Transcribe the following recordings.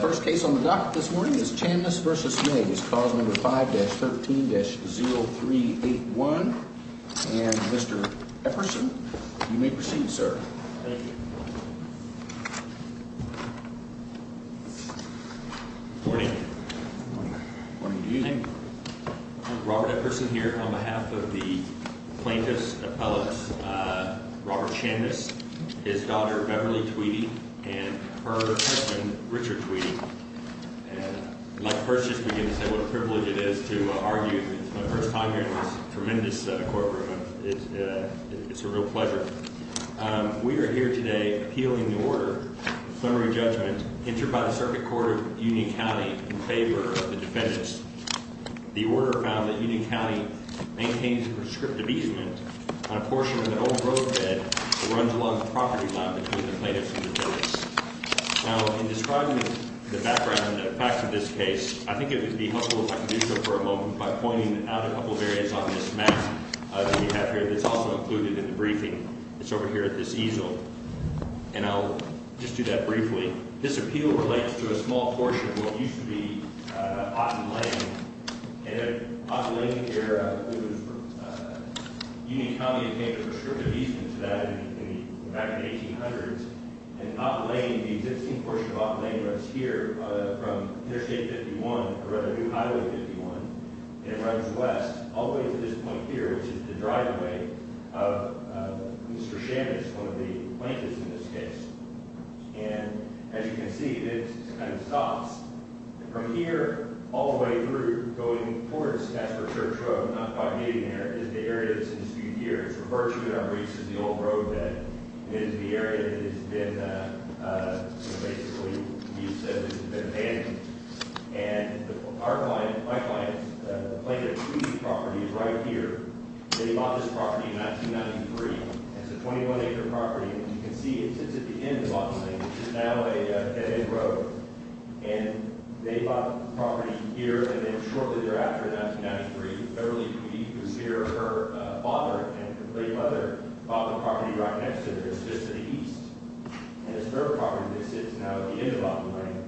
First case on the docket this morning is Chandness v. Mays, cause number 5-13-0381, and Mr. Epperson, you may proceed, sir. Thank you. Good morning. Good morning. Good morning to you. Robert Epperson here on behalf of the plaintiff's appellate, Robert Chandness, his daughter Beverly Tweedy, and her husband Richard Tweedy. And I'd like to first just begin to say what a privilege it is to argue for the first time here in this tremendous courtroom. It's a real pleasure. We are here today appealing the order of summary judgment entered by the Circuit Court of Union County in favor of the defendants. The order found that Union County maintains a prescriptive easement on a portion of an old roadbed that runs along the property line between the plaintiffs and the defendants. Now, in describing the background facts of this case, I think it would be helpful if I could do so for a moment by pointing out a couple of areas on this map that we have here that's also included in the briefing. It's over here at this easel. And I'll just do that briefly. This appeal relates to a small portion of what used to be Otten Lane. And Otten Lane here, Union County obtained a prescriptive easement to that back in the 1800s. And Otten Lane, the existing portion of Otten Lane runs here from Interstate 51, or rather, New Highway 51, and it runs west all the way to this point here, which is the driveway of Mr. Chandness, one of the plaintiffs in this case. And as you can see, it kind of stops. From here all the way through going towards Stafford Church Road, not quite meeting there, is the area that's in dispute here. It's referred to in our briefs as the old roadbed. It is the area that has been basically used as the defendant's. And our client, my client's plaintiff's property is right here. They bought this property in 1993. It's a 21-acre property. As you can see, it sits at the end of Otten Lane. This is now a dead end road. And they bought the property here, and then shortly thereafter in 1993, Beverly Peeve, who's here, her father and great-mother bought the property right next to this, just to the east. And this third property that sits now at the end of Otten Lane.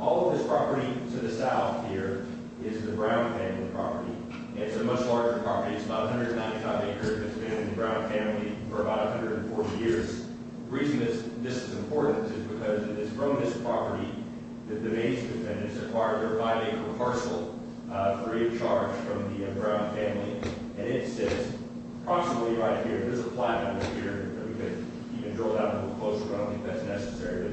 All of this property to the south here is the Brown family property. It's a much larger property. It's about 195 acres. It's been in the Brown family for about 140 years. The reason this is important is because it is from this property that the base defendant has acquired their 5-acre parcel free of charge from the Brown family. And it sits approximately right here. There's a plaque under here that we could even drill down a little closer, but I don't think that's necessary.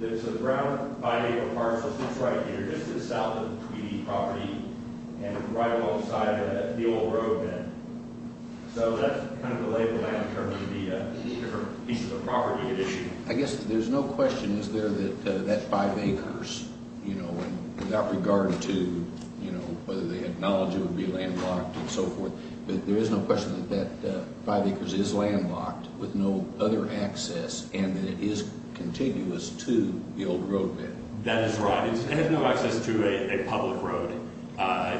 So the Brown 5-acre parcel sits right here, just to the south of the Peeve property, and right alongside the old road then. So that's kind of the label now in terms of the different pieces of property you're issuing. I guess there's no question, is there, that that 5 acres, without regard to whether they acknowledge it would be landlocked and so forth, but there is no question that that 5 acres is landlocked with no other access and that it is continuous to the old roadbed. That is right. It has no access to a public road.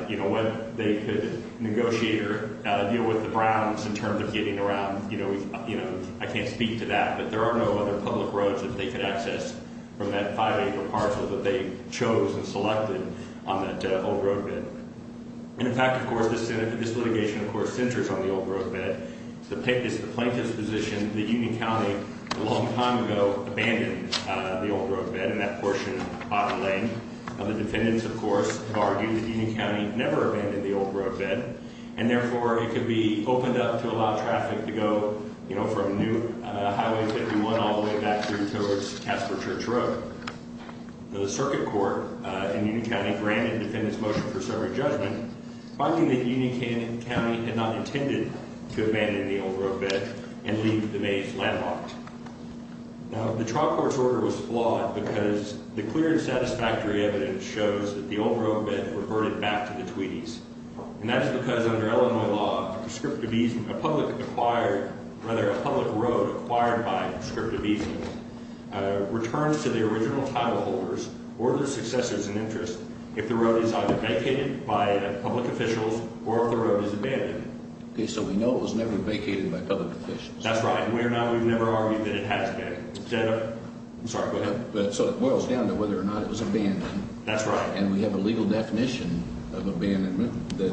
You know, what they could negotiate or deal with the Browns in terms of getting around, you know, I can't speak to that. But there are no other public roads that they could access from that 5-acre parcel that they chose and selected on that old roadbed. In fact, of course, this litigation, of course, centers on the old roadbed. The plaintiff's position is that Union County a long time ago abandoned the old roadbed and that portion of Bottom Lane. The defendants, of course, have argued that Union County never abandoned the old roadbed, and therefore it could be opened up to allow traffic to go, you know, from Newt Highway 51 all the way back through towards Casper Church Road. The circuit court in Union County granted the defendant's motion for summary judgment, finding that Union County had not intended to abandon the old roadbed and leave the maze landlocked. Now, the trial court's order was flawed because the clear and satisfactory evidence shows that the old roadbed reverted back to the Tweedys, and that's because under Illinois law, a public road acquired by prescriptive easement returns to the original title holders or their successors in interest if the road is either vacated by public officials or if the road is abandoned. Okay, so we know it was never vacated by public officials. That's right, and we've never argued that it has been. I'm sorry, go ahead. So it boils down to whether or not it was abandoned. That's right. And we have a legal definition of abandonment that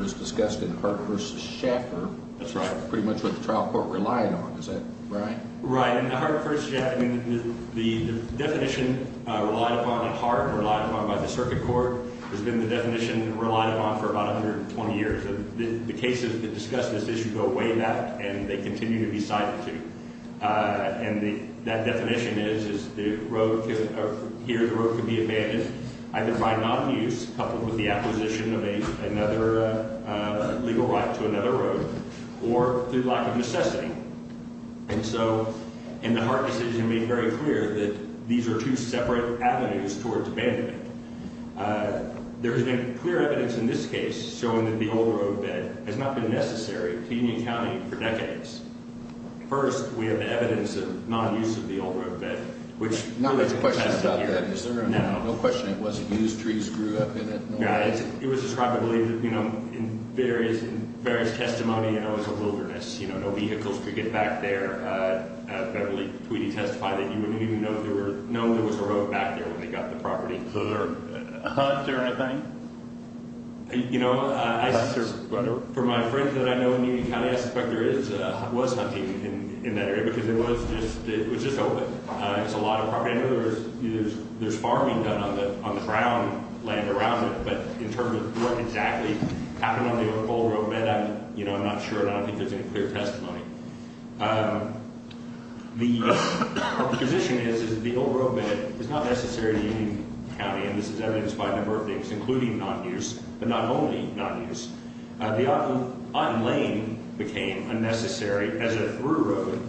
was discussed in Hart v. Schaffer. That's right. Pretty much what the trial court relied on, is that right? Right. In Hart v. Schaffer, the definition relied upon at Hart, relied upon by the circuit court, has been the definition relied upon for about 120 years. The cases that discuss this issue go way back, and they continue to be cited too. And that definition is, is the road, here the road could be abandoned either by non-use coupled with the acquisition of another legal right to another road or through lack of necessity. And so, in the Hart decision, made very clear that these are two separate avenues towards abandonment. There has been clear evidence in this case showing that the old roadbed has not been necessary to Union County for decades. First, we have evidence of non-use of the old roadbed. Now there's a question about that. No. There's no question it wasn't used. Trees grew up in it. Yeah, it was described, I believe, in various testimonies as a wilderness. No vehicles could get back there. I believe Tweedy testified that you wouldn't even know there was a road back there when they got the property. Was there a hut or anything? You know, for my friends that I know in Union County, I suspect there was hunting in that area because it was just open. It's a lot of property. I know there's farming done on the ground land around it, but in terms of what exactly happened on the old roadbed, I'm not sure. I don't think there's any clear testimony. The position is that the old roadbed is not necessary to Union County, and this is evidenced by a number of things, including non-use, but not only non-use. The Otten Lane became unnecessary as a through road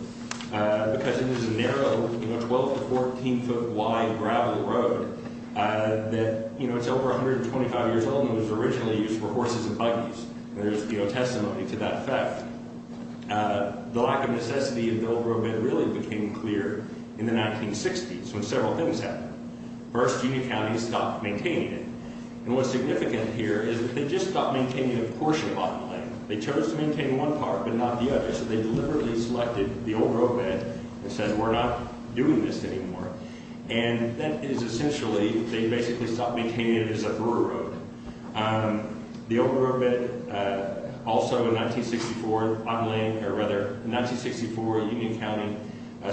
because it is a narrow 12- to 14-foot-wide gravel road that's over 125 years old and was originally used for horses and buggies. There's testimony to that fact. The lack of necessity of the old roadbed really became clear in the 1960s when several things happened. First, Union County stopped maintaining it, and what's significant here is that they just stopped maintaining a portion of Otten Lane. They chose to maintain one part but not the other, so they deliberately selected the old roadbed and said, we're not doing this anymore. And that is essentially, they basically stopped maintaining it as a thorough road. The old roadbed also, in 1964, Union County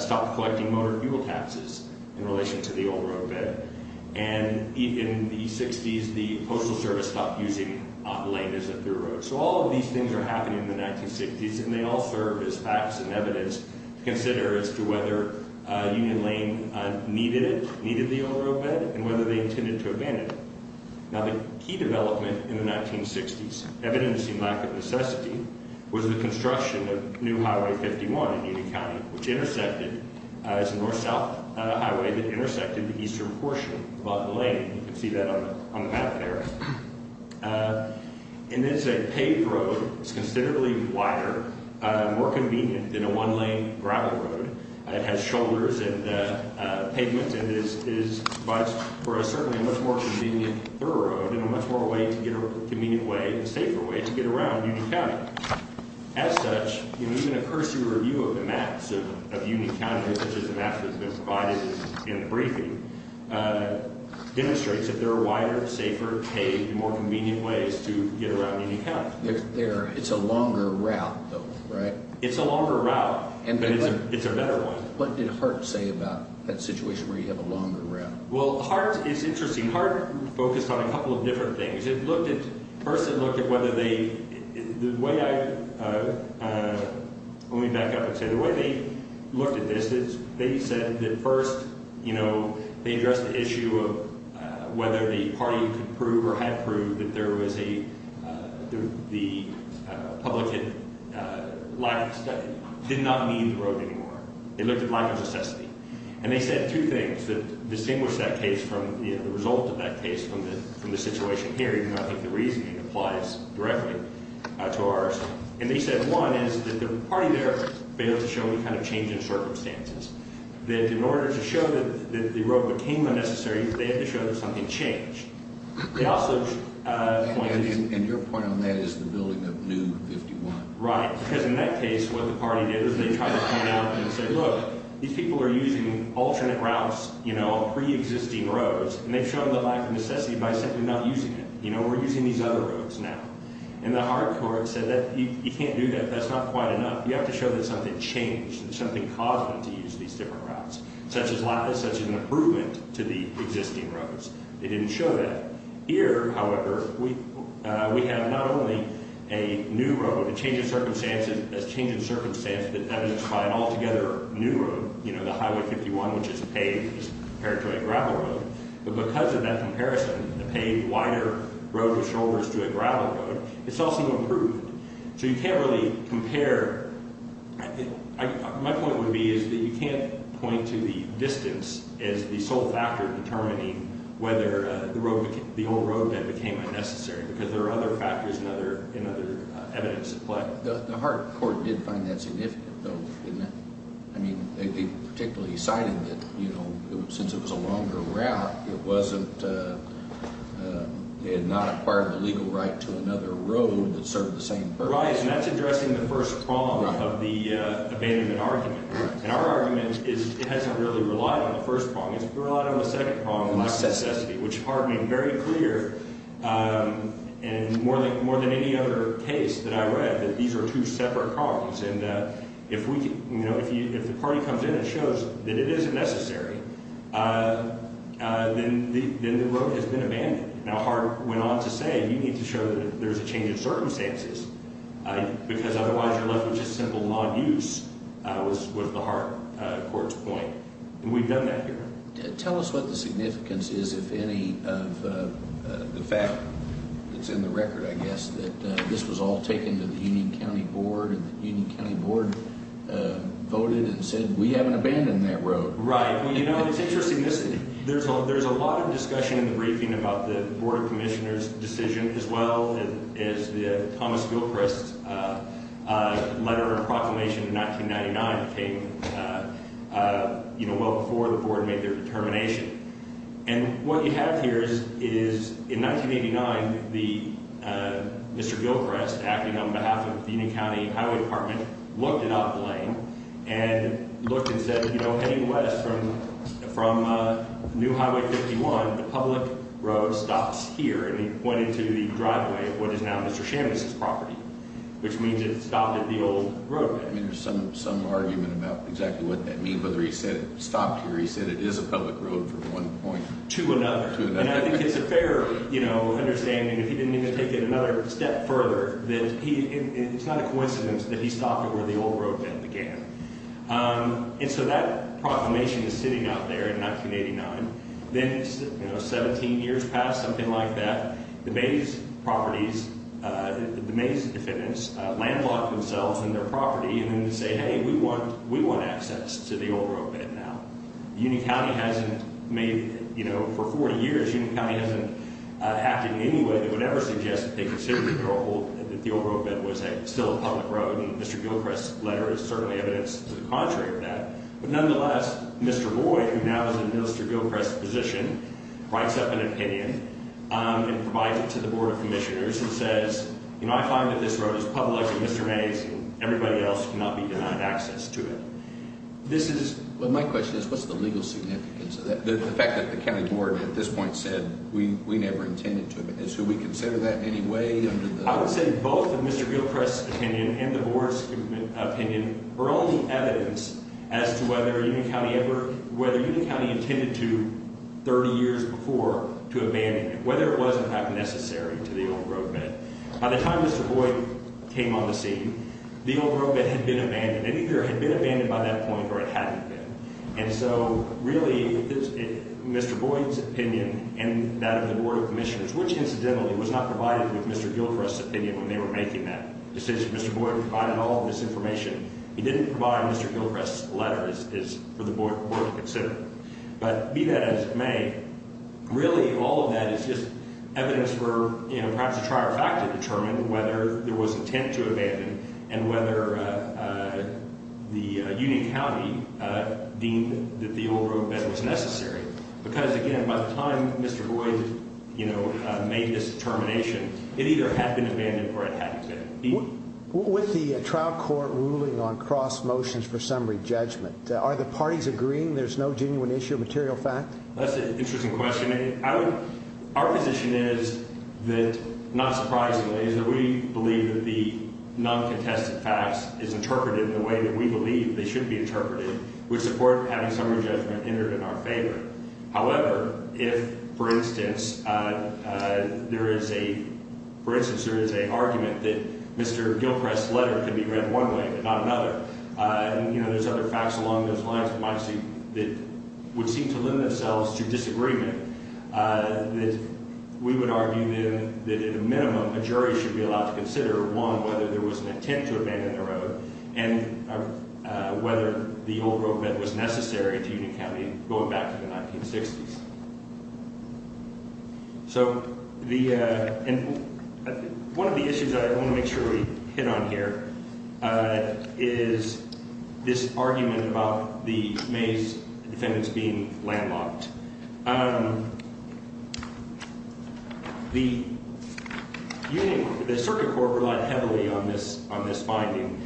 stopped collecting motor fuel taxes in relation to the old roadbed. And in the 60s, the Postal Service stopped using Otten Lane as a thorough road. So all of these things are happening in the 1960s, and they all serve as facts and evidence to consider as to whether Union Lane needed the old roadbed and whether they intended to abandon it. Now, the key development in the 1960s, evidencing lack of necessity, was the construction of new Highway 51 in Union County, which intersected. It's a north-south highway that intersected the eastern portion of Otten Lane. You can see that on the map there. And it's a paved road. It's considerably wider, more convenient than a one-lane gravel road. It has shoulders and pavement and is certainly a much more convenient thorough road and a much more convenient way and safer way to get around Union County. As such, even a cursory review of the maps of Union County, such as the map that's been provided in the briefing, demonstrates that there are wider, safer, paved, more convenient ways to get around Union County. It's a longer route, though, right? It's a longer route. But it's a better one. What did Hart say about that situation where you have a longer route? Well, Hart is interesting. Hart focused on a couple of different things. First, it looked at whether they – the way I – let me back up and say – the way they looked at this is they said that first, you know, they addressed the issue of whether the party could prove or had proved that there was a – the public had lacked – did not need the road anymore. They looked at lack of necessity. And they said two things that distinguished that case from, you know, the result of that case from the situation here, even though I think the reasoning applies directly to ours. And they said, one, is that the party there failed to show any kind of change in circumstances, that in order to show that the road became unnecessary, they had to show that something changed. They also – And your point on that is the building of New 51. Right. Because in that case, what the party did is they tried to point out and say, look, these people are using alternate routes, you know, pre-existing roads, and they've shown the lack of necessity by simply not using it. You know, we're using these other roads now. And the Hart court said that you can't do that. That's not quite enough. You have to show that something changed and something caused them to use these different routes, such as lack – such an improvement to the existing roads. They didn't show that. Here, however, we have not only a new road, a change in circumstances – a change in circumstance that evidenced by an altogether new road, you know, the Highway 51, which is paved compared to a gravel road. But because of that comparison, the paved, wider road with shoulders to a gravel road, it's also improved. So you can't really compare – my point would be is that you can't point to the distance as the sole factor in determining whether the old roadbed became unnecessary because there are other factors and other evidence at play. The Hart court did find that significant, though, didn't it? I mean, they particularly cited that, you know, since it was a longer route, it wasn't – they had not acquired the legal right to another road that served the same purpose. Right, and that's addressing the first problem of the abandonment argument. And our argument is it hasn't really relied on the first problem. It's relied on the second problem, the lack of necessity, which Hart made very clear in more than any other case that I read that these are two separate problems. And if we – you know, if the party comes in and shows that it isn't necessary, then the road has been abandoned. Now, Hart went on to say you need to show that there's a change in circumstances because otherwise you're left with just simple non-use was the Hart court's point. And we've done that here. Tell us what the significance is, if any, of the fact that's in the record, I guess, that this was all taken to the Union County Board and the Union County Board voted and said we haven't abandoned that road. Right. Well, you know, it's interesting. There's a lot of discussion in the briefing about the Board of Commissioners' decision as well as the Thomas Gilchrist letter or proclamation in 1999 came, you know, well before the Board made their determination. And what you have here is in 1989, Mr. Gilchrist, acting on behalf of the Union County Highway Department, looked it up, Lane, and looked and said, you know, heading west from New Highway 51, the public road stops here. And he pointed to the driveway of what is now Mr. Shamus' property, which means it stopped at the old roadway. There's some argument about exactly what that means, whether he said it stopped here. He said it is a public road from one point to another. And I think it's a fair understanding, if he didn't even take it another step further, that it's not a coincidence that he stopped at where the old roadbed began. And so that proclamation is sitting out there in 1989. Then, you know, 17 years past, something like that, the Mays properties, the Mays defendants, landlocked themselves in their property and then say, hey, we want access to the old roadbed now. Union County hasn't made, you know, for 40 years, Union County hasn't acted in any way that would ever suggest that they consider the old roadbed was still a public road. And Mr. Gilchrist's letter is certainly evidence to the contrary of that. But nonetheless, Mr. Boyd, who now is in Mr. Gilchrist's position, writes up an opinion and provides it to the board of commissioners and says, you know, I find that this road is public to Mr. Mays and everybody else cannot be denied access to it. This is what my question is. What's the legal significance of that? The fact that the county board at this point said we we never intended to. Anyway, I would say both of Mr. Gilchrist's opinion and the board's opinion are only evidence as to whether Union County ever whether Union County intended to 30 years before to abandon it, whether it wasn't necessary to the old roadbed. By the time Mr. Boyd came on the scene, the old roadbed had been abandoned. It either had been abandoned by that point or it hadn't been. And so really, Mr. Boyd's opinion and that of the board of commissioners, which incidentally was not provided with Mr. Gilchrist's opinion when they were making that decision. Mr. Boyd provided all this information. He didn't provide Mr. Gilchrist's letter for the board to consider. But be that as it may, really, all of that is just evidence for perhaps a trier factor to determine whether there was intent to abandon and whether the Union County deemed that the old roadbed was necessary. Because, again, by the time Mr. Boyd made this determination, it either had been abandoned or it hadn't been. With the trial court ruling on cross motions for summary judgment, are the parties agreeing there's no genuine issue of material fact? That's an interesting question. Our position is that, not surprisingly, is that we believe that the non-contested facts is interpreted in the way that we believe they should be interpreted, which support having summary judgment entered in our favor. However, if, for instance, there is a argument that Mr. Gilchrist's letter could be read one way but not another, and there's other facts along those lines that would seem to lend themselves to disagreement, we would argue then that, at a minimum, a jury should be allowed to consider, one, whether there was an intent to abandon the road and whether the old roadbed was necessary to Union County going back to the 1960s. One of the issues that I want to make sure we hit on here is this argument about the Mays defendants being landlocked. The circuit court relied heavily on this finding,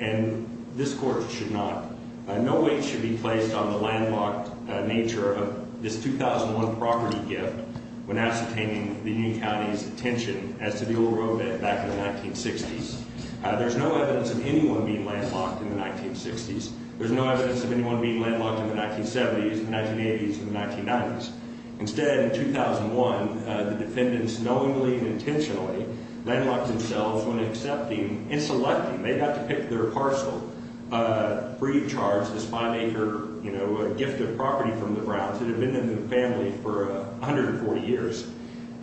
and this court should not. No weight should be placed on the landlocked nature of this 2001 property gift when ascertaining the Union County's attention as to the old roadbed back in the 1960s. There's no evidence of anyone being landlocked in the 1960s. There's no evidence of anyone being landlocked in the 1970s, the 1980s, and the 1990s. Instead, in 2001, the defendants knowingly and intentionally landlocked themselves when accepting and selecting. They got to pick their parcel, free of charge, this five-acre gift of property from the Browns that had been in the family for 140 years.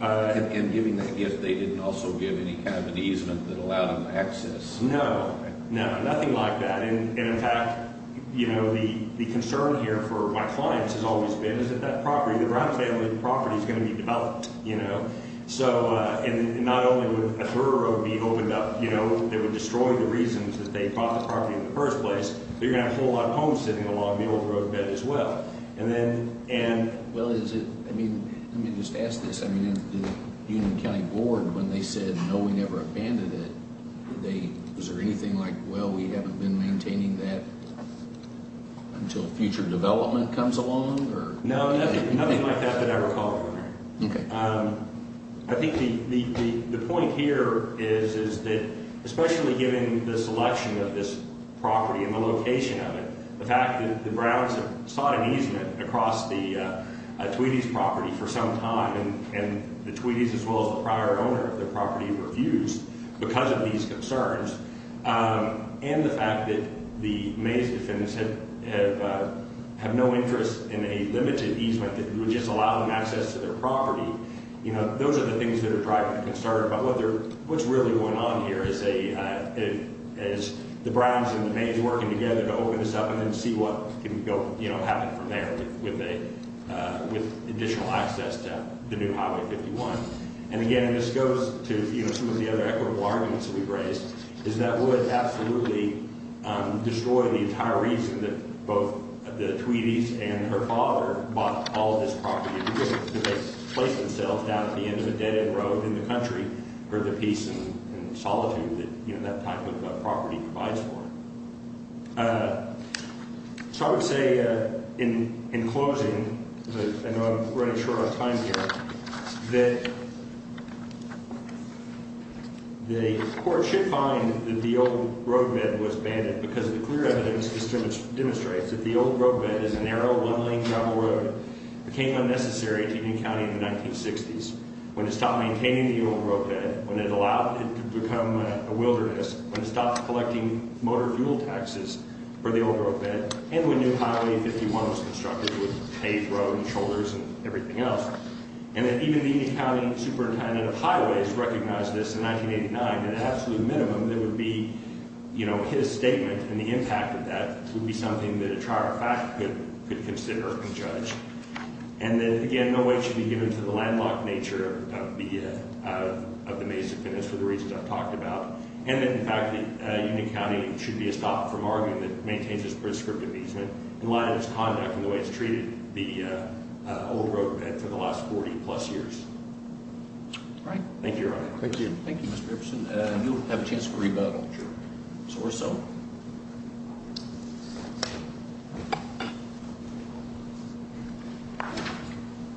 And giving that gift, they didn't also give any kind of an easement that allowed them access? No, no, nothing like that. And, in fact, you know, the concern here for my clients has always been is that that property, the Brown family property, is going to be developed, you know. So, and not only would a thorough road be opened up, you know, they would destroy the reasons that they bought the property in the first place, but you're going to have a whole lot of homes sitting along the old roadbed as well. Well, is it, I mean, let me just ask this. I mean, the Union County Board, when they said, no, we never abandoned it, they, is there anything like, well, we haven't been maintaining that until future development comes along, or? No, nothing like that that I recall. Okay. I think the point here is that especially given the selection of this property and the location of it, the fact that the Browns have sought an easement across the Tweedys property for some time, and the Tweedys as well as the prior owner of the property were abused because of these concerns, and the fact that the Mays defendants have no interest in a limited easement that would just allow them access to their property, you know, those are the things that are driving the concern about what's really going on here as the Browns and the Mays working together to open this up and then see what can go, you know, happen from there with additional access to the new Highway 51. And again, this goes to, you know, some of the other equitable arguments that we've raised, is that would absolutely destroy the entire reason that both the Tweedys and her father bought all of this property because they placed themselves down at the end of a dead-end road in the country for the peace and solitude that, you know, that type of property provides for them. So I would say in closing, I know I'm running short on time here, that the court should find that the old roadbed was banded because the clear evidence just demonstrates that the old roadbed is a narrow, motor-fueled access for the old roadbed, and we knew Highway 51 was constructed with paved road and shoulders and everything else, and that even the Union County Superintendent of Highways recognized this in 1989, at an absolute minimum, that it would be, you know, his statement and the impact of that would be something that a trier of fact could consider and judge. And then, again, no weight should be given to the landlocked nature of the Mesa finish for the reasons I've talked about. And then, in fact, the Union County should be stopped from arguing that it maintains its prescriptive easement in light of its conduct and the way it's treated the old roadbed for the last 40-plus years. Thank you, Your Honor. Thank you. Thank you, Mr. Everson. You'll have a chance to rebut, I'm sure. So are some.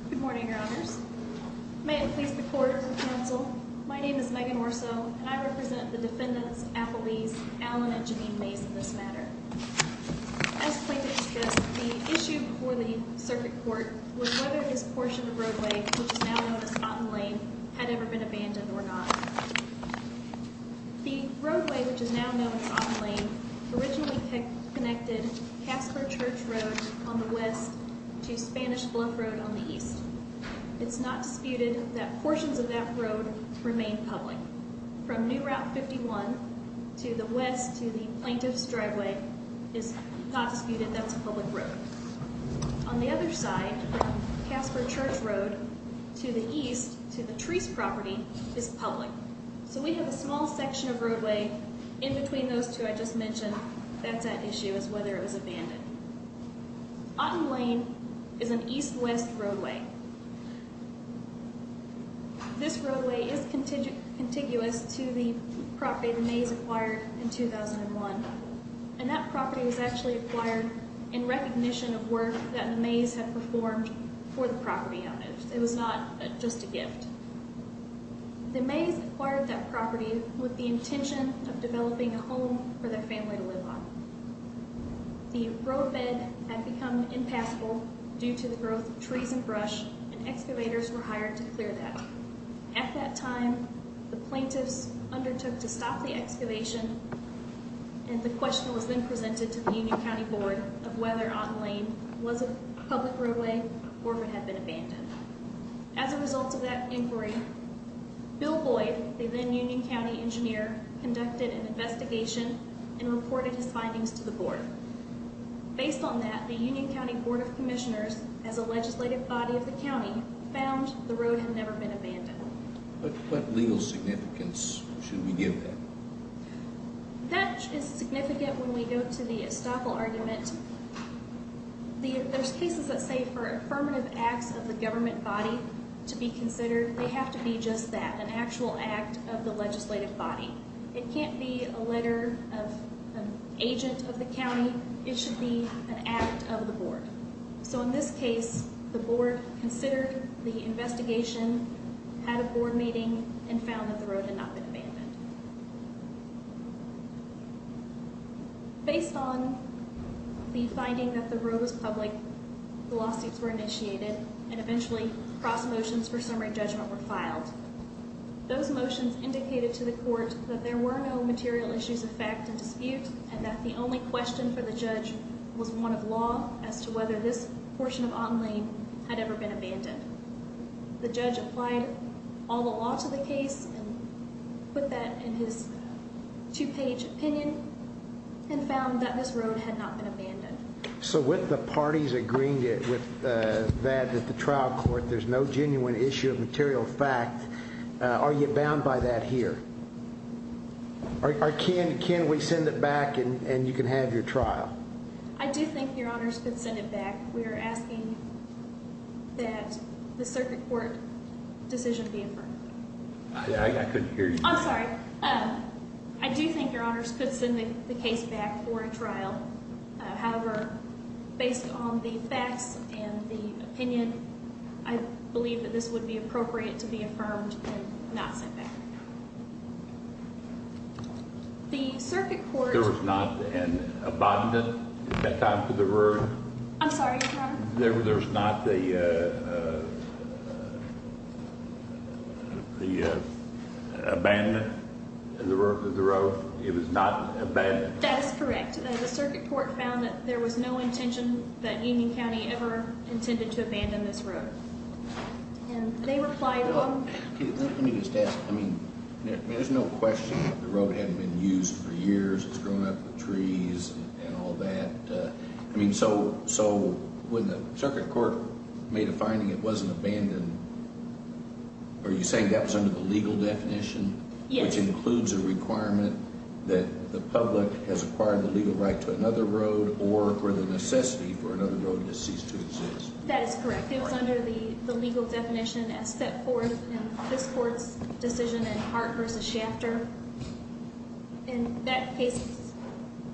Good morning, Your Honors. May it please the Court and the Council, my name is Megan Orso, and I represent the defendants, appellees, Allen and Janine Mays, in this matter. As plaintiffs discussed, the issue before the circuit court was whether this portion of roadway, which is now known as Otten Lane, had ever been abandoned or not. The roadway, which is now known as Otten Lane, originally connected Casper Church Road on the west to Spanish Bluff Road on the east. It's not disputed that portions of that road remain public. From New Route 51 to the west to the plaintiff's driveway, it's not disputed that's a public road. On the other side, from Casper Church Road to the east, to the Treece property, is public. So we have a small section of roadway in between those two I just mentioned. That's at issue, is whether it was abandoned. Otten Lane is an east-west roadway. This roadway is contiguous to the property the Mays acquired in 2001. And that property was actually acquired in recognition of work that the Mays had performed for the property on it. It was not just a gift. The Mays acquired that property with the intention of developing a home for their family to live on. The roadbed had become impassable due to the growth of trees and brush, and excavators were hired to clear that. At that time, the plaintiffs undertook to stop the excavation. And the question was then presented to the Union County Board of whether Otten Lane was a public roadway or if it had been abandoned. As a result of that inquiry, Bill Boyd, the then Union County Engineer, conducted an investigation and reported his findings to the Board. Based on that, the Union County Board of Commissioners, as a legislative body of the county, found the road had never been abandoned. But what legal significance should we give that? That is significant when we go to the estoppel argument. There's cases that say for affirmative acts of the government body to be considered. They have to be just that, an actual act of the legislative body. It can't be a letter of an agent of the county. It should be an act of the board. So in this case, the board considered the investigation, had a board meeting, and found that the road had not been abandoned. Based on the finding that the road was public, the lawsuits were initiated, and eventually cross motions for summary judgment were filed. Those motions indicated to the court that there were no material issues of fact and dispute, and that the only question for the judge was one of law as to whether this portion of Otten Lane had ever been abandoned. The judge applied all the law to the case and put that in his two-page opinion and found that this road had not been abandoned. So with the parties agreeing with that at the trial court, there's no genuine issue of material fact. Are you bound by that here? Can we send it back and you can have your trial? I do think your honors could send it back. We are asking that the circuit court decision be affirmed. I couldn't hear you. I'm sorry. I do think your honors could send the case back for a trial. However, based on the facts and the opinion, I believe that this would be appropriate to be affirmed and not sent back. The circuit court... There was not an abandonment at that time for the road? I'm sorry, your honor? There was not the abandonment of the road? It was not abandoned? That is correct. The circuit court found that there was no intention that Union County ever intended to abandon this road. And they replied... Let me just ask. I mean, there's no question that the road hadn't been used for years. It's grown up with trees and all that. I mean, so when the circuit court made a finding it wasn't abandoned, are you saying that was under the legal definition? Yes. Which includes a requirement that the public has acquired the legal right to another road or for the necessity for another road to cease to exist. That is correct. It was under the legal definition as set forth in this court's decision in Hart v. Shafter. And that case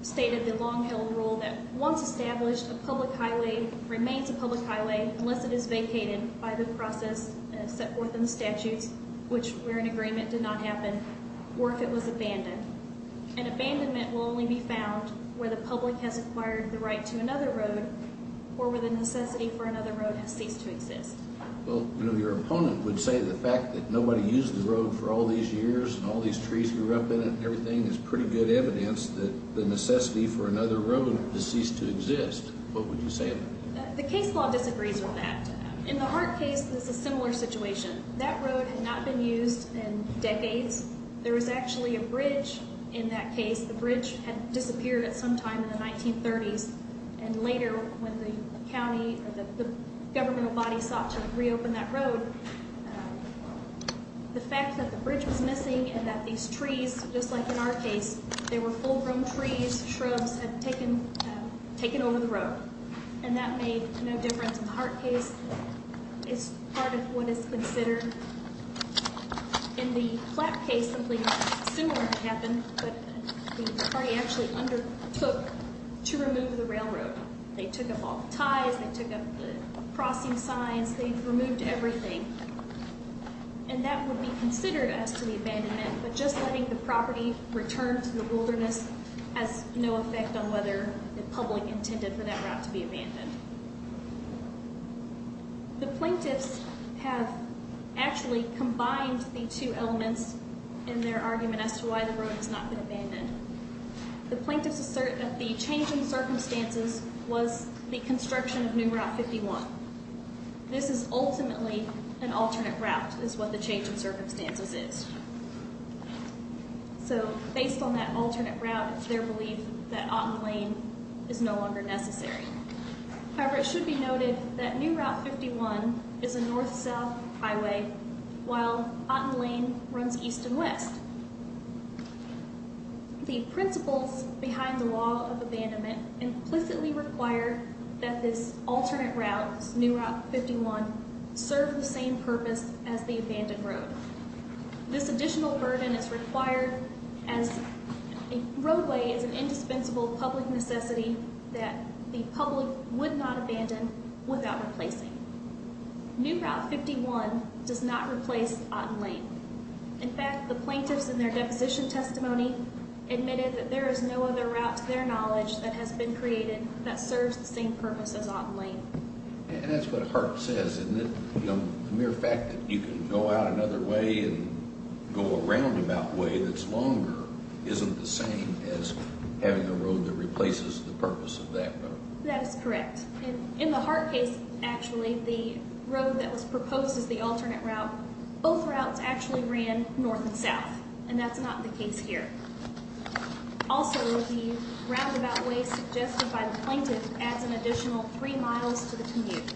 stated the long-held rule that once established, a public highway remains a public highway unless it is vacated by the process set forth in the statutes, which where an agreement did not happen, or if it was abandoned. An abandonment will only be found where the public has acquired the right to another road or where the necessity for another road has ceased to exist. Well, you know, your opponent would say the fact that nobody used the road for all these years and all these trees grew up in it and everything is pretty good evidence that the necessity for another road has ceased to exist. What would you say to that? The case law disagrees with that. In the Hart case, it's a similar situation. That road had not been used in decades. There was actually a bridge in that case. The bridge had disappeared at some time in the 1930s. And later, when the county or the governmental body sought to reopen that road, the fact that the bridge was missing and that these trees, just like in our case, they were full-grown trees, shrubs, had taken over the road. And that made no difference in the Hart case. It's part of what is considered, in the Platt case, something similar happened. But the party actually undertook to remove the railroad. They took up all the ties. They took up the crossing signs. They removed everything. And that would be considered as to the abandonment. But just letting the property return to the wilderness has no effect on whether the public intended for that route to be abandoned. The plaintiffs have actually combined the two elements in their argument as to why the road has not been abandoned. The plaintiffs assert that the change in circumstances was the construction of new Route 51. This is ultimately an alternate route, is what the change in circumstances is. So, based on that alternate route, it's their belief that Otten Lane is no longer necessary. However, it should be noted that new Route 51 is a north-south highway, while Otten Lane runs east and west. The principles behind the law of abandonment implicitly require that this alternate route, new Route 51, serve the same purpose as the abandoned road. This additional burden is required as a roadway is an indispensable public necessity that the public would not abandon without replacing. New Route 51 does not replace Otten Lane. In fact, the plaintiffs in their deposition testimony admitted that there is no other route to their knowledge that has been created that serves the same purpose as Otten Lane. And that's what Hart says, isn't it? The mere fact that you can go out another way and go a roundabout way that's longer isn't the same as having a road that replaces the purpose of that road. That is correct. In the Hart case, actually, the road that was proposed as the alternate route, both routes actually ran north and south, and that's not the case here. Also, the roundabout way suggested by the plaintiff adds an additional three miles to the commute.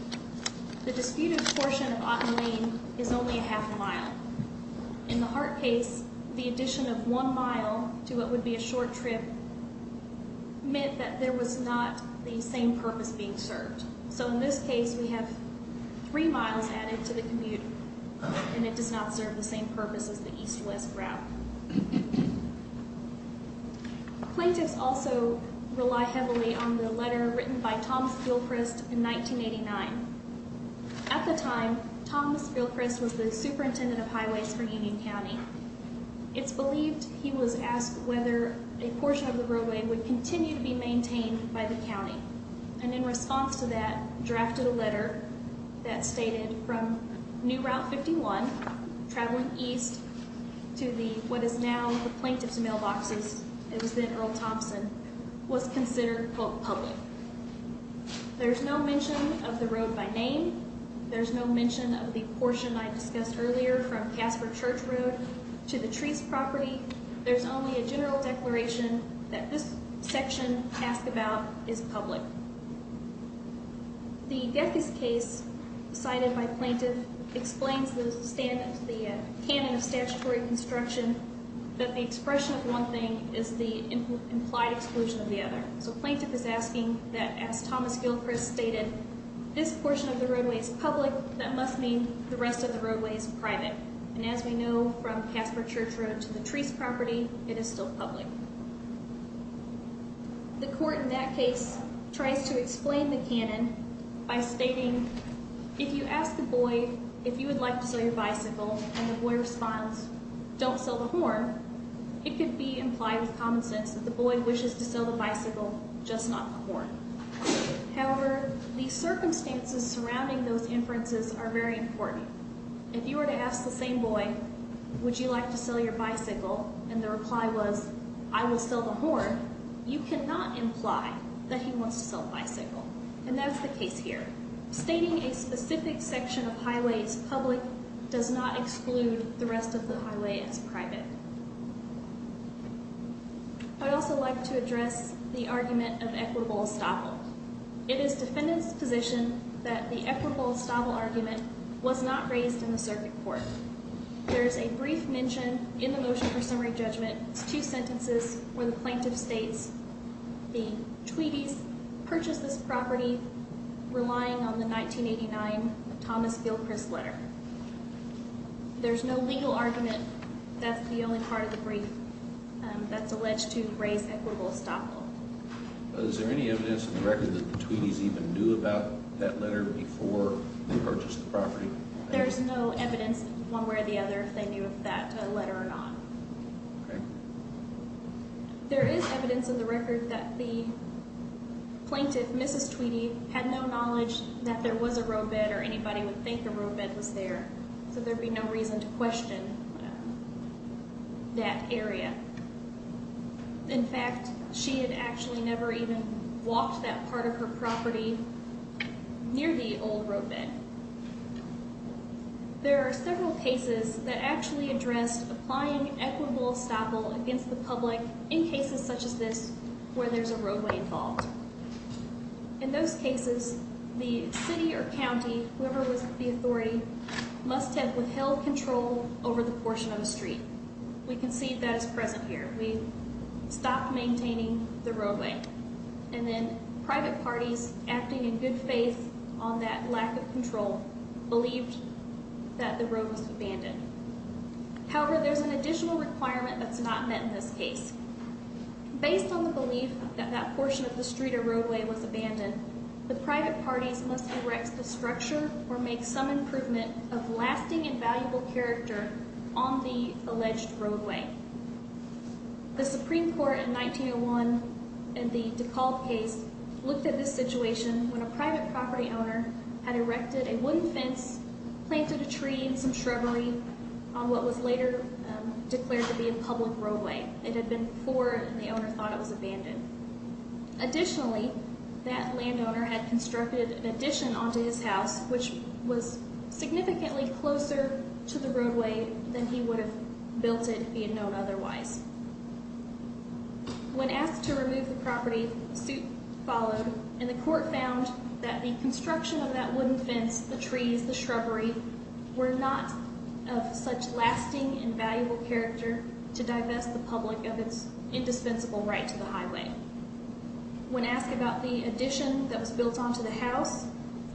The disputed portion of Otten Lane is only a half a mile. In the Hart case, the addition of one mile to what would be a short trip meant that there was not the same purpose being served. So in this case, we have three miles added to the commute, and it does not serve the same purpose as the east-west route. Plaintiffs also rely heavily on the letter written by Thomas Gilchrist in 1989. At the time, Thomas Gilchrist was the superintendent of highways for Union County. It's believed he was asked whether a portion of the roadway would continue to be maintained by the county. And in response to that, drafted a letter that stated from New Route 51, traveling east to what is now the plaintiff's mailboxes, it was then Earl Thompson, was considered both public. There's no mention of the road by name. There's no mention of the portion I discussed earlier from Casper Church Road to the Treece property. There's only a general declaration that this section asked about is public. The Gethys case, cited by plaintiff, explains the canon of statutory construction, that the expression of one thing is the implied exclusion of the other. So plaintiff is asking that as Thomas Gilchrist stated, this portion of the roadway is public, that must mean the rest of the roadway is private. And as we know from Casper Church Road to the Treece property, it is still public. The court in that case tries to explain the canon by stating, if you ask a boy if you would like to sell your bicycle and the boy responds, don't sell the horn, it could be implied with common sense that the boy wishes to sell the bicycle, just not the horn. However, the circumstances surrounding those inferences are very important. If you were to ask the same boy, would you like to sell your bicycle, and the reply was, I will sell the horn, you cannot imply that he wants to sell the bicycle. And that is the case here. Stating a specific section of highway as public does not exclude the rest of the highway as private. I would also like to address the argument of equitable estoppel. It is defendant's position that the equitable estoppel argument was not raised in the circuit court. There is a brief mention in the motion for summary judgment, it's two sentences, where the plaintiff states the Tweedie's purchased this property relying on the 1989 Thomas Gilchrist letter. There's no legal argument, that's the only part of the brief that's alleged to raise equitable estoppel. Is there any evidence in the record that the Tweedie's even knew about that letter before they purchased the property? There's no evidence one way or the other if they knew of that letter or not. There is evidence in the record that the plaintiff, Mrs. Tweedie, had no knowledge that there was a roadbed or anybody would think a roadbed was there. So there would be no reason to question that area. In fact, she had actually never even walked that part of her property near the old roadbed. There are several cases that actually addressed applying equitable estoppel against the public in cases such as this where there's a roadway involved. In those cases, the city or county, whoever was the authority, must have withheld control over the portion of the street. We can see that is present here. We stopped maintaining the roadway. And then private parties, acting in good faith on that lack of control, believed that the road was abandoned. However, there's an additional requirement that's not met in this case. Based on the belief that that portion of the street or roadway was abandoned, the private parties must erect a structure or make some improvement of lasting and valuable character on the alleged roadway. The Supreme Court in 1901 in the DeKalb case looked at this situation when a private property owner had erected a wooden fence, planted a tree and some shrubbery on what was later declared to be a public roadway. It had been poor and the owner thought it was abandoned. Additionally, that landowner had constructed an addition onto his house which was significantly closer to the roadway than he would have built it if he had known otherwise. When asked to remove the property, suit followed and the court found that the construction of that wooden fence, the trees, the shrubbery, were not of such lasting and valuable character to divest the public of its indispensable right to the highway. When asked about the addition that was built onto the house,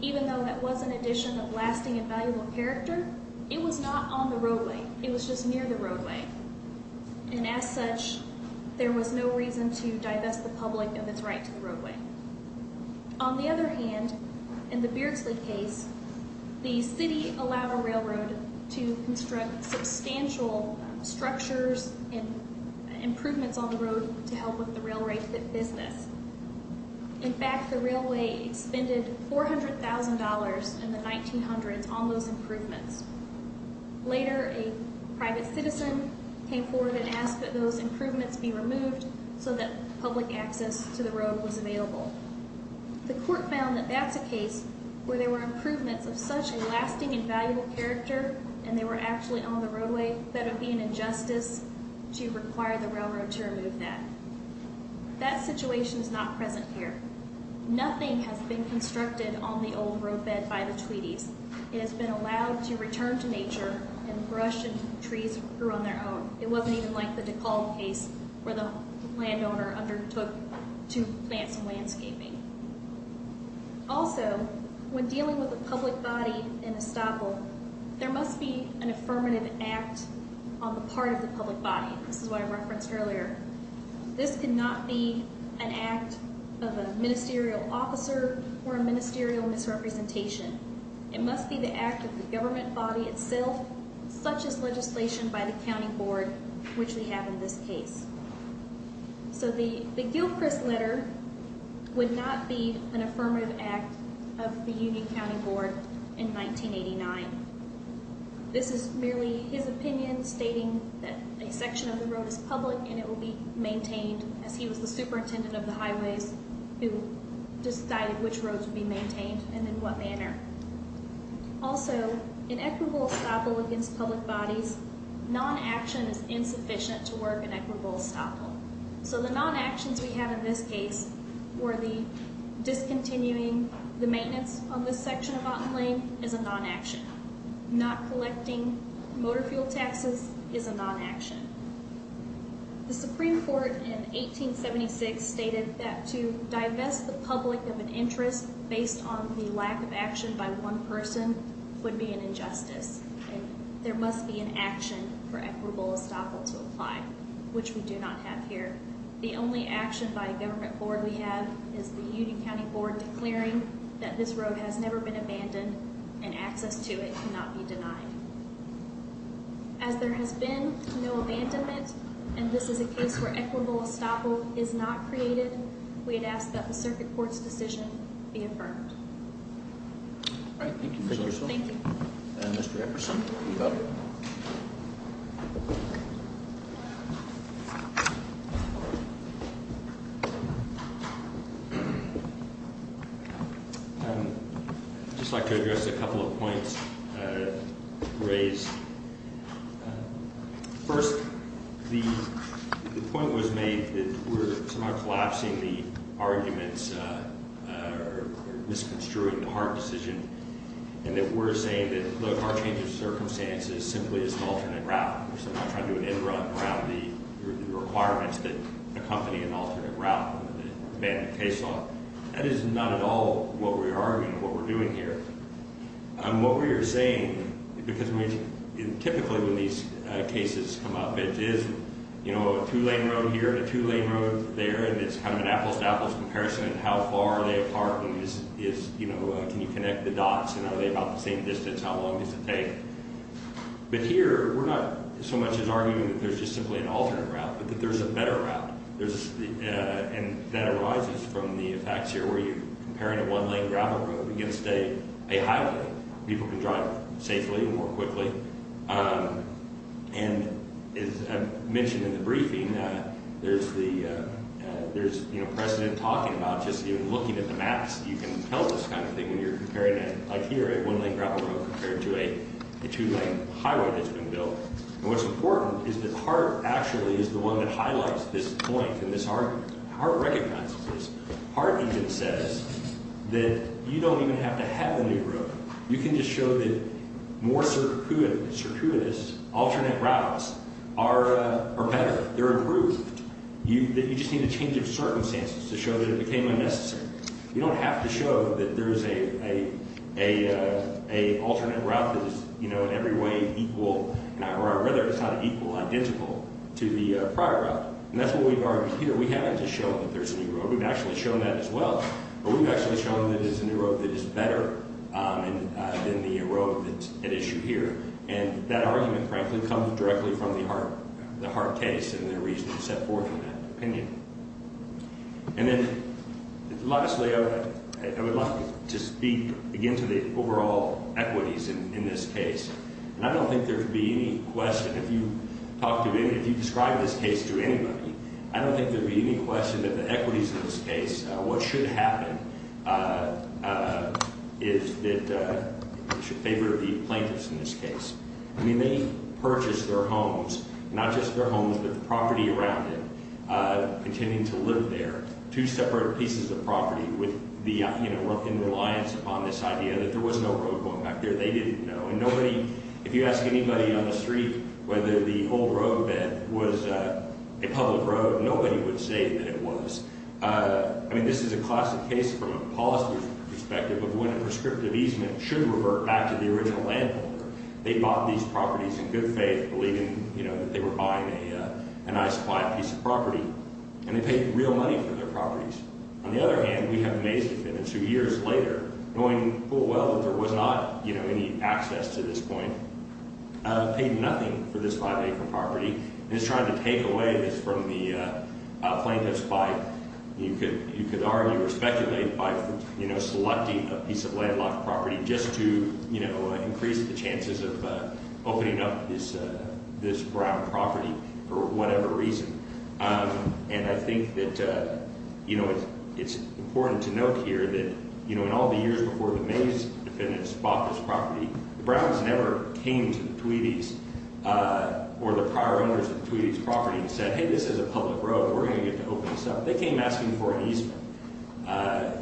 even though that was an addition of lasting and valuable character, it was not on the roadway. It was just near the roadway. And as such, there was no reason to divest the public of its right to the roadway. On the other hand, in the Beardsley case, the city allowed a railroad to construct substantial structures and improvements on the road to help with the railroad's business. In fact, the railway expended $400,000 in the 1900s on those improvements. Later, a private citizen came forward and asked that those improvements be removed so that public access to the road was available. The court found that that's a case where there were improvements of such a lasting and valuable character and they were actually on the roadway, that it would be an injustice to require the railroad to remove that. That situation is not present here. Nothing has been constructed on the old roadbed by the Tweedies. It has been allowed to return to nature and brush and trees grew on their own. It wasn't even like the DeKalb case where the landowner undertook to plant some landscaping. Also, when dealing with the public body in Estoppel, there must be an affirmative act on the part of the public body. This is what I referenced earlier. This cannot be an act of a ministerial officer or a ministerial misrepresentation. It must be the act of the government body itself, such as legislation by the county board, which we have in this case. So the Gilchrist letter would not be an affirmative act of the Union County Board in 1989. This is merely his opinion stating that a section of the road is public and it will be maintained as he was the superintendent of the highways who decided which roads would be maintained and in what manner. Also, in Equinville-Estoppel against public bodies, non-action is insufficient to work in Equinville-Estoppel. So the non-actions we have in this case were the discontinuing the maintenance on this section of Otten Lane is a non-action. Not collecting motor fuel taxes is a non-action. The Supreme Court in 1876 stated that to divest the public of an interest based on the lack of action by one person would be an injustice. There must be an action for Equinville-Estoppel to apply, which we do not have here. The only action by a government board we have is the Union County Board declaring that this road has never been abandoned and access to it cannot be denied. As there has been no abandonment and this is a case where Equinville-Estoppel is not created, we would ask that the circuit court's decision be affirmed. All right, thank you, Ms. Urso. Thank you. Mr. Eckerson, you've got it. I'd just like to address a couple of points raised. First, the point was made that we're somehow collapsing the arguments or misconstruing the hard decision. And that we're saying that, look, our change of circumstances simply is an alternate route. We're somehow trying to do an end run around the requirements that accompany an alternate route, abandon the case law. That is not at all what we are doing, what we're doing here. What we are saying, because typically when these cases come up, it is a two-lane road here and a two-lane road there, and it's kind of an apples-to-apples comparison of how far are they apart and can you connect the dots and are they about the same distance, how long does it take? But here, we're not so much as arguing that there's just simply an alternate route, but that there's a better route. And that arises from the facts here where you're comparing a one-lane gravel road against a highway. People can drive safely and more quickly. And as I mentioned in the briefing, there's precedent talking about just even looking at the maps, you can tell this kind of thing when you're comparing it. Like here, a one-lane gravel road compared to a two-lane highway that's been built. And what's important is that Hart actually is the one that highlights this point in this argument. Hart recognizes this. Hart even says that you don't even have to have a new road. You can just show that more circuitous alternate routes are better, they're improved. You just need a change of circumstances to show that it became unnecessary. You don't have to show that there's an alternate route that is in every way equal, or rather it's not equal, identical to the prior route. And that's what we've argued here. We haven't just shown that there's a new road, we've actually shown that as well. But we've actually shown that there's a new road that is better than the road at issue here. And that argument, frankly, comes directly from the Hart case and the reasons set forth in that opinion. And then, lastly, I would like to speak again to the overall equities in this case. And I don't think there would be any question, if you describe this case to anybody, I don't think there would be any question that the equities in this case, what should happen is that it should favor the plaintiffs in this case. I mean, they purchased their homes, not just their homes, but the property around it, intending to live there, two separate pieces of property in reliance upon this idea that there was no road going back there. They didn't know. And nobody, if you ask anybody on the street whether the old roadbed was a public road, nobody would say that it was. I mean, this is a classic case from a policy perspective of when a prescriptive easement should revert back to the original landholder. They bought these properties in good faith, believing that they were buying a nice, quiet piece of property. And they paid real money for their properties. On the other hand, we have Macy's who, years later, knowing full well that there was not any access to this point, paid nothing for this five-acre property and is trying to take away this from the plaintiffs by, you could argue, or speculate by selecting a piece of landlocked property just to increase the chances of opening up this Brown property for whatever reason. And I think that it's important to note here that in all the years before the Macy's defendants bought this property, the Browns never came to the Tweedie's or the prior owners of the Tweedie's property and said, hey, this is a public road, we're going to get to open this up. They came asking for an easement.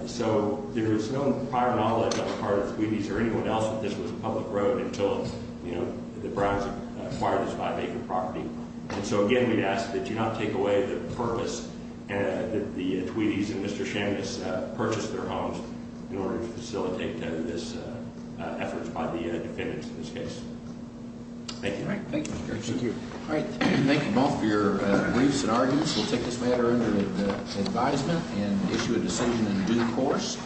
So there is no prior knowledge on the part of Tweedie's or anyone else that this was a public road until the Browns acquired this five-acre property. And so, again, we'd ask that you not take away the purpose that the Tweedie's and Mr. Shamus purchased their homes in order to facilitate this effort by the defendants in this case. Thank you. All right, thank you. Thank you. All right, thank you both for your briefs and arguments. We'll take this matter under advisement and issue a decision in due course.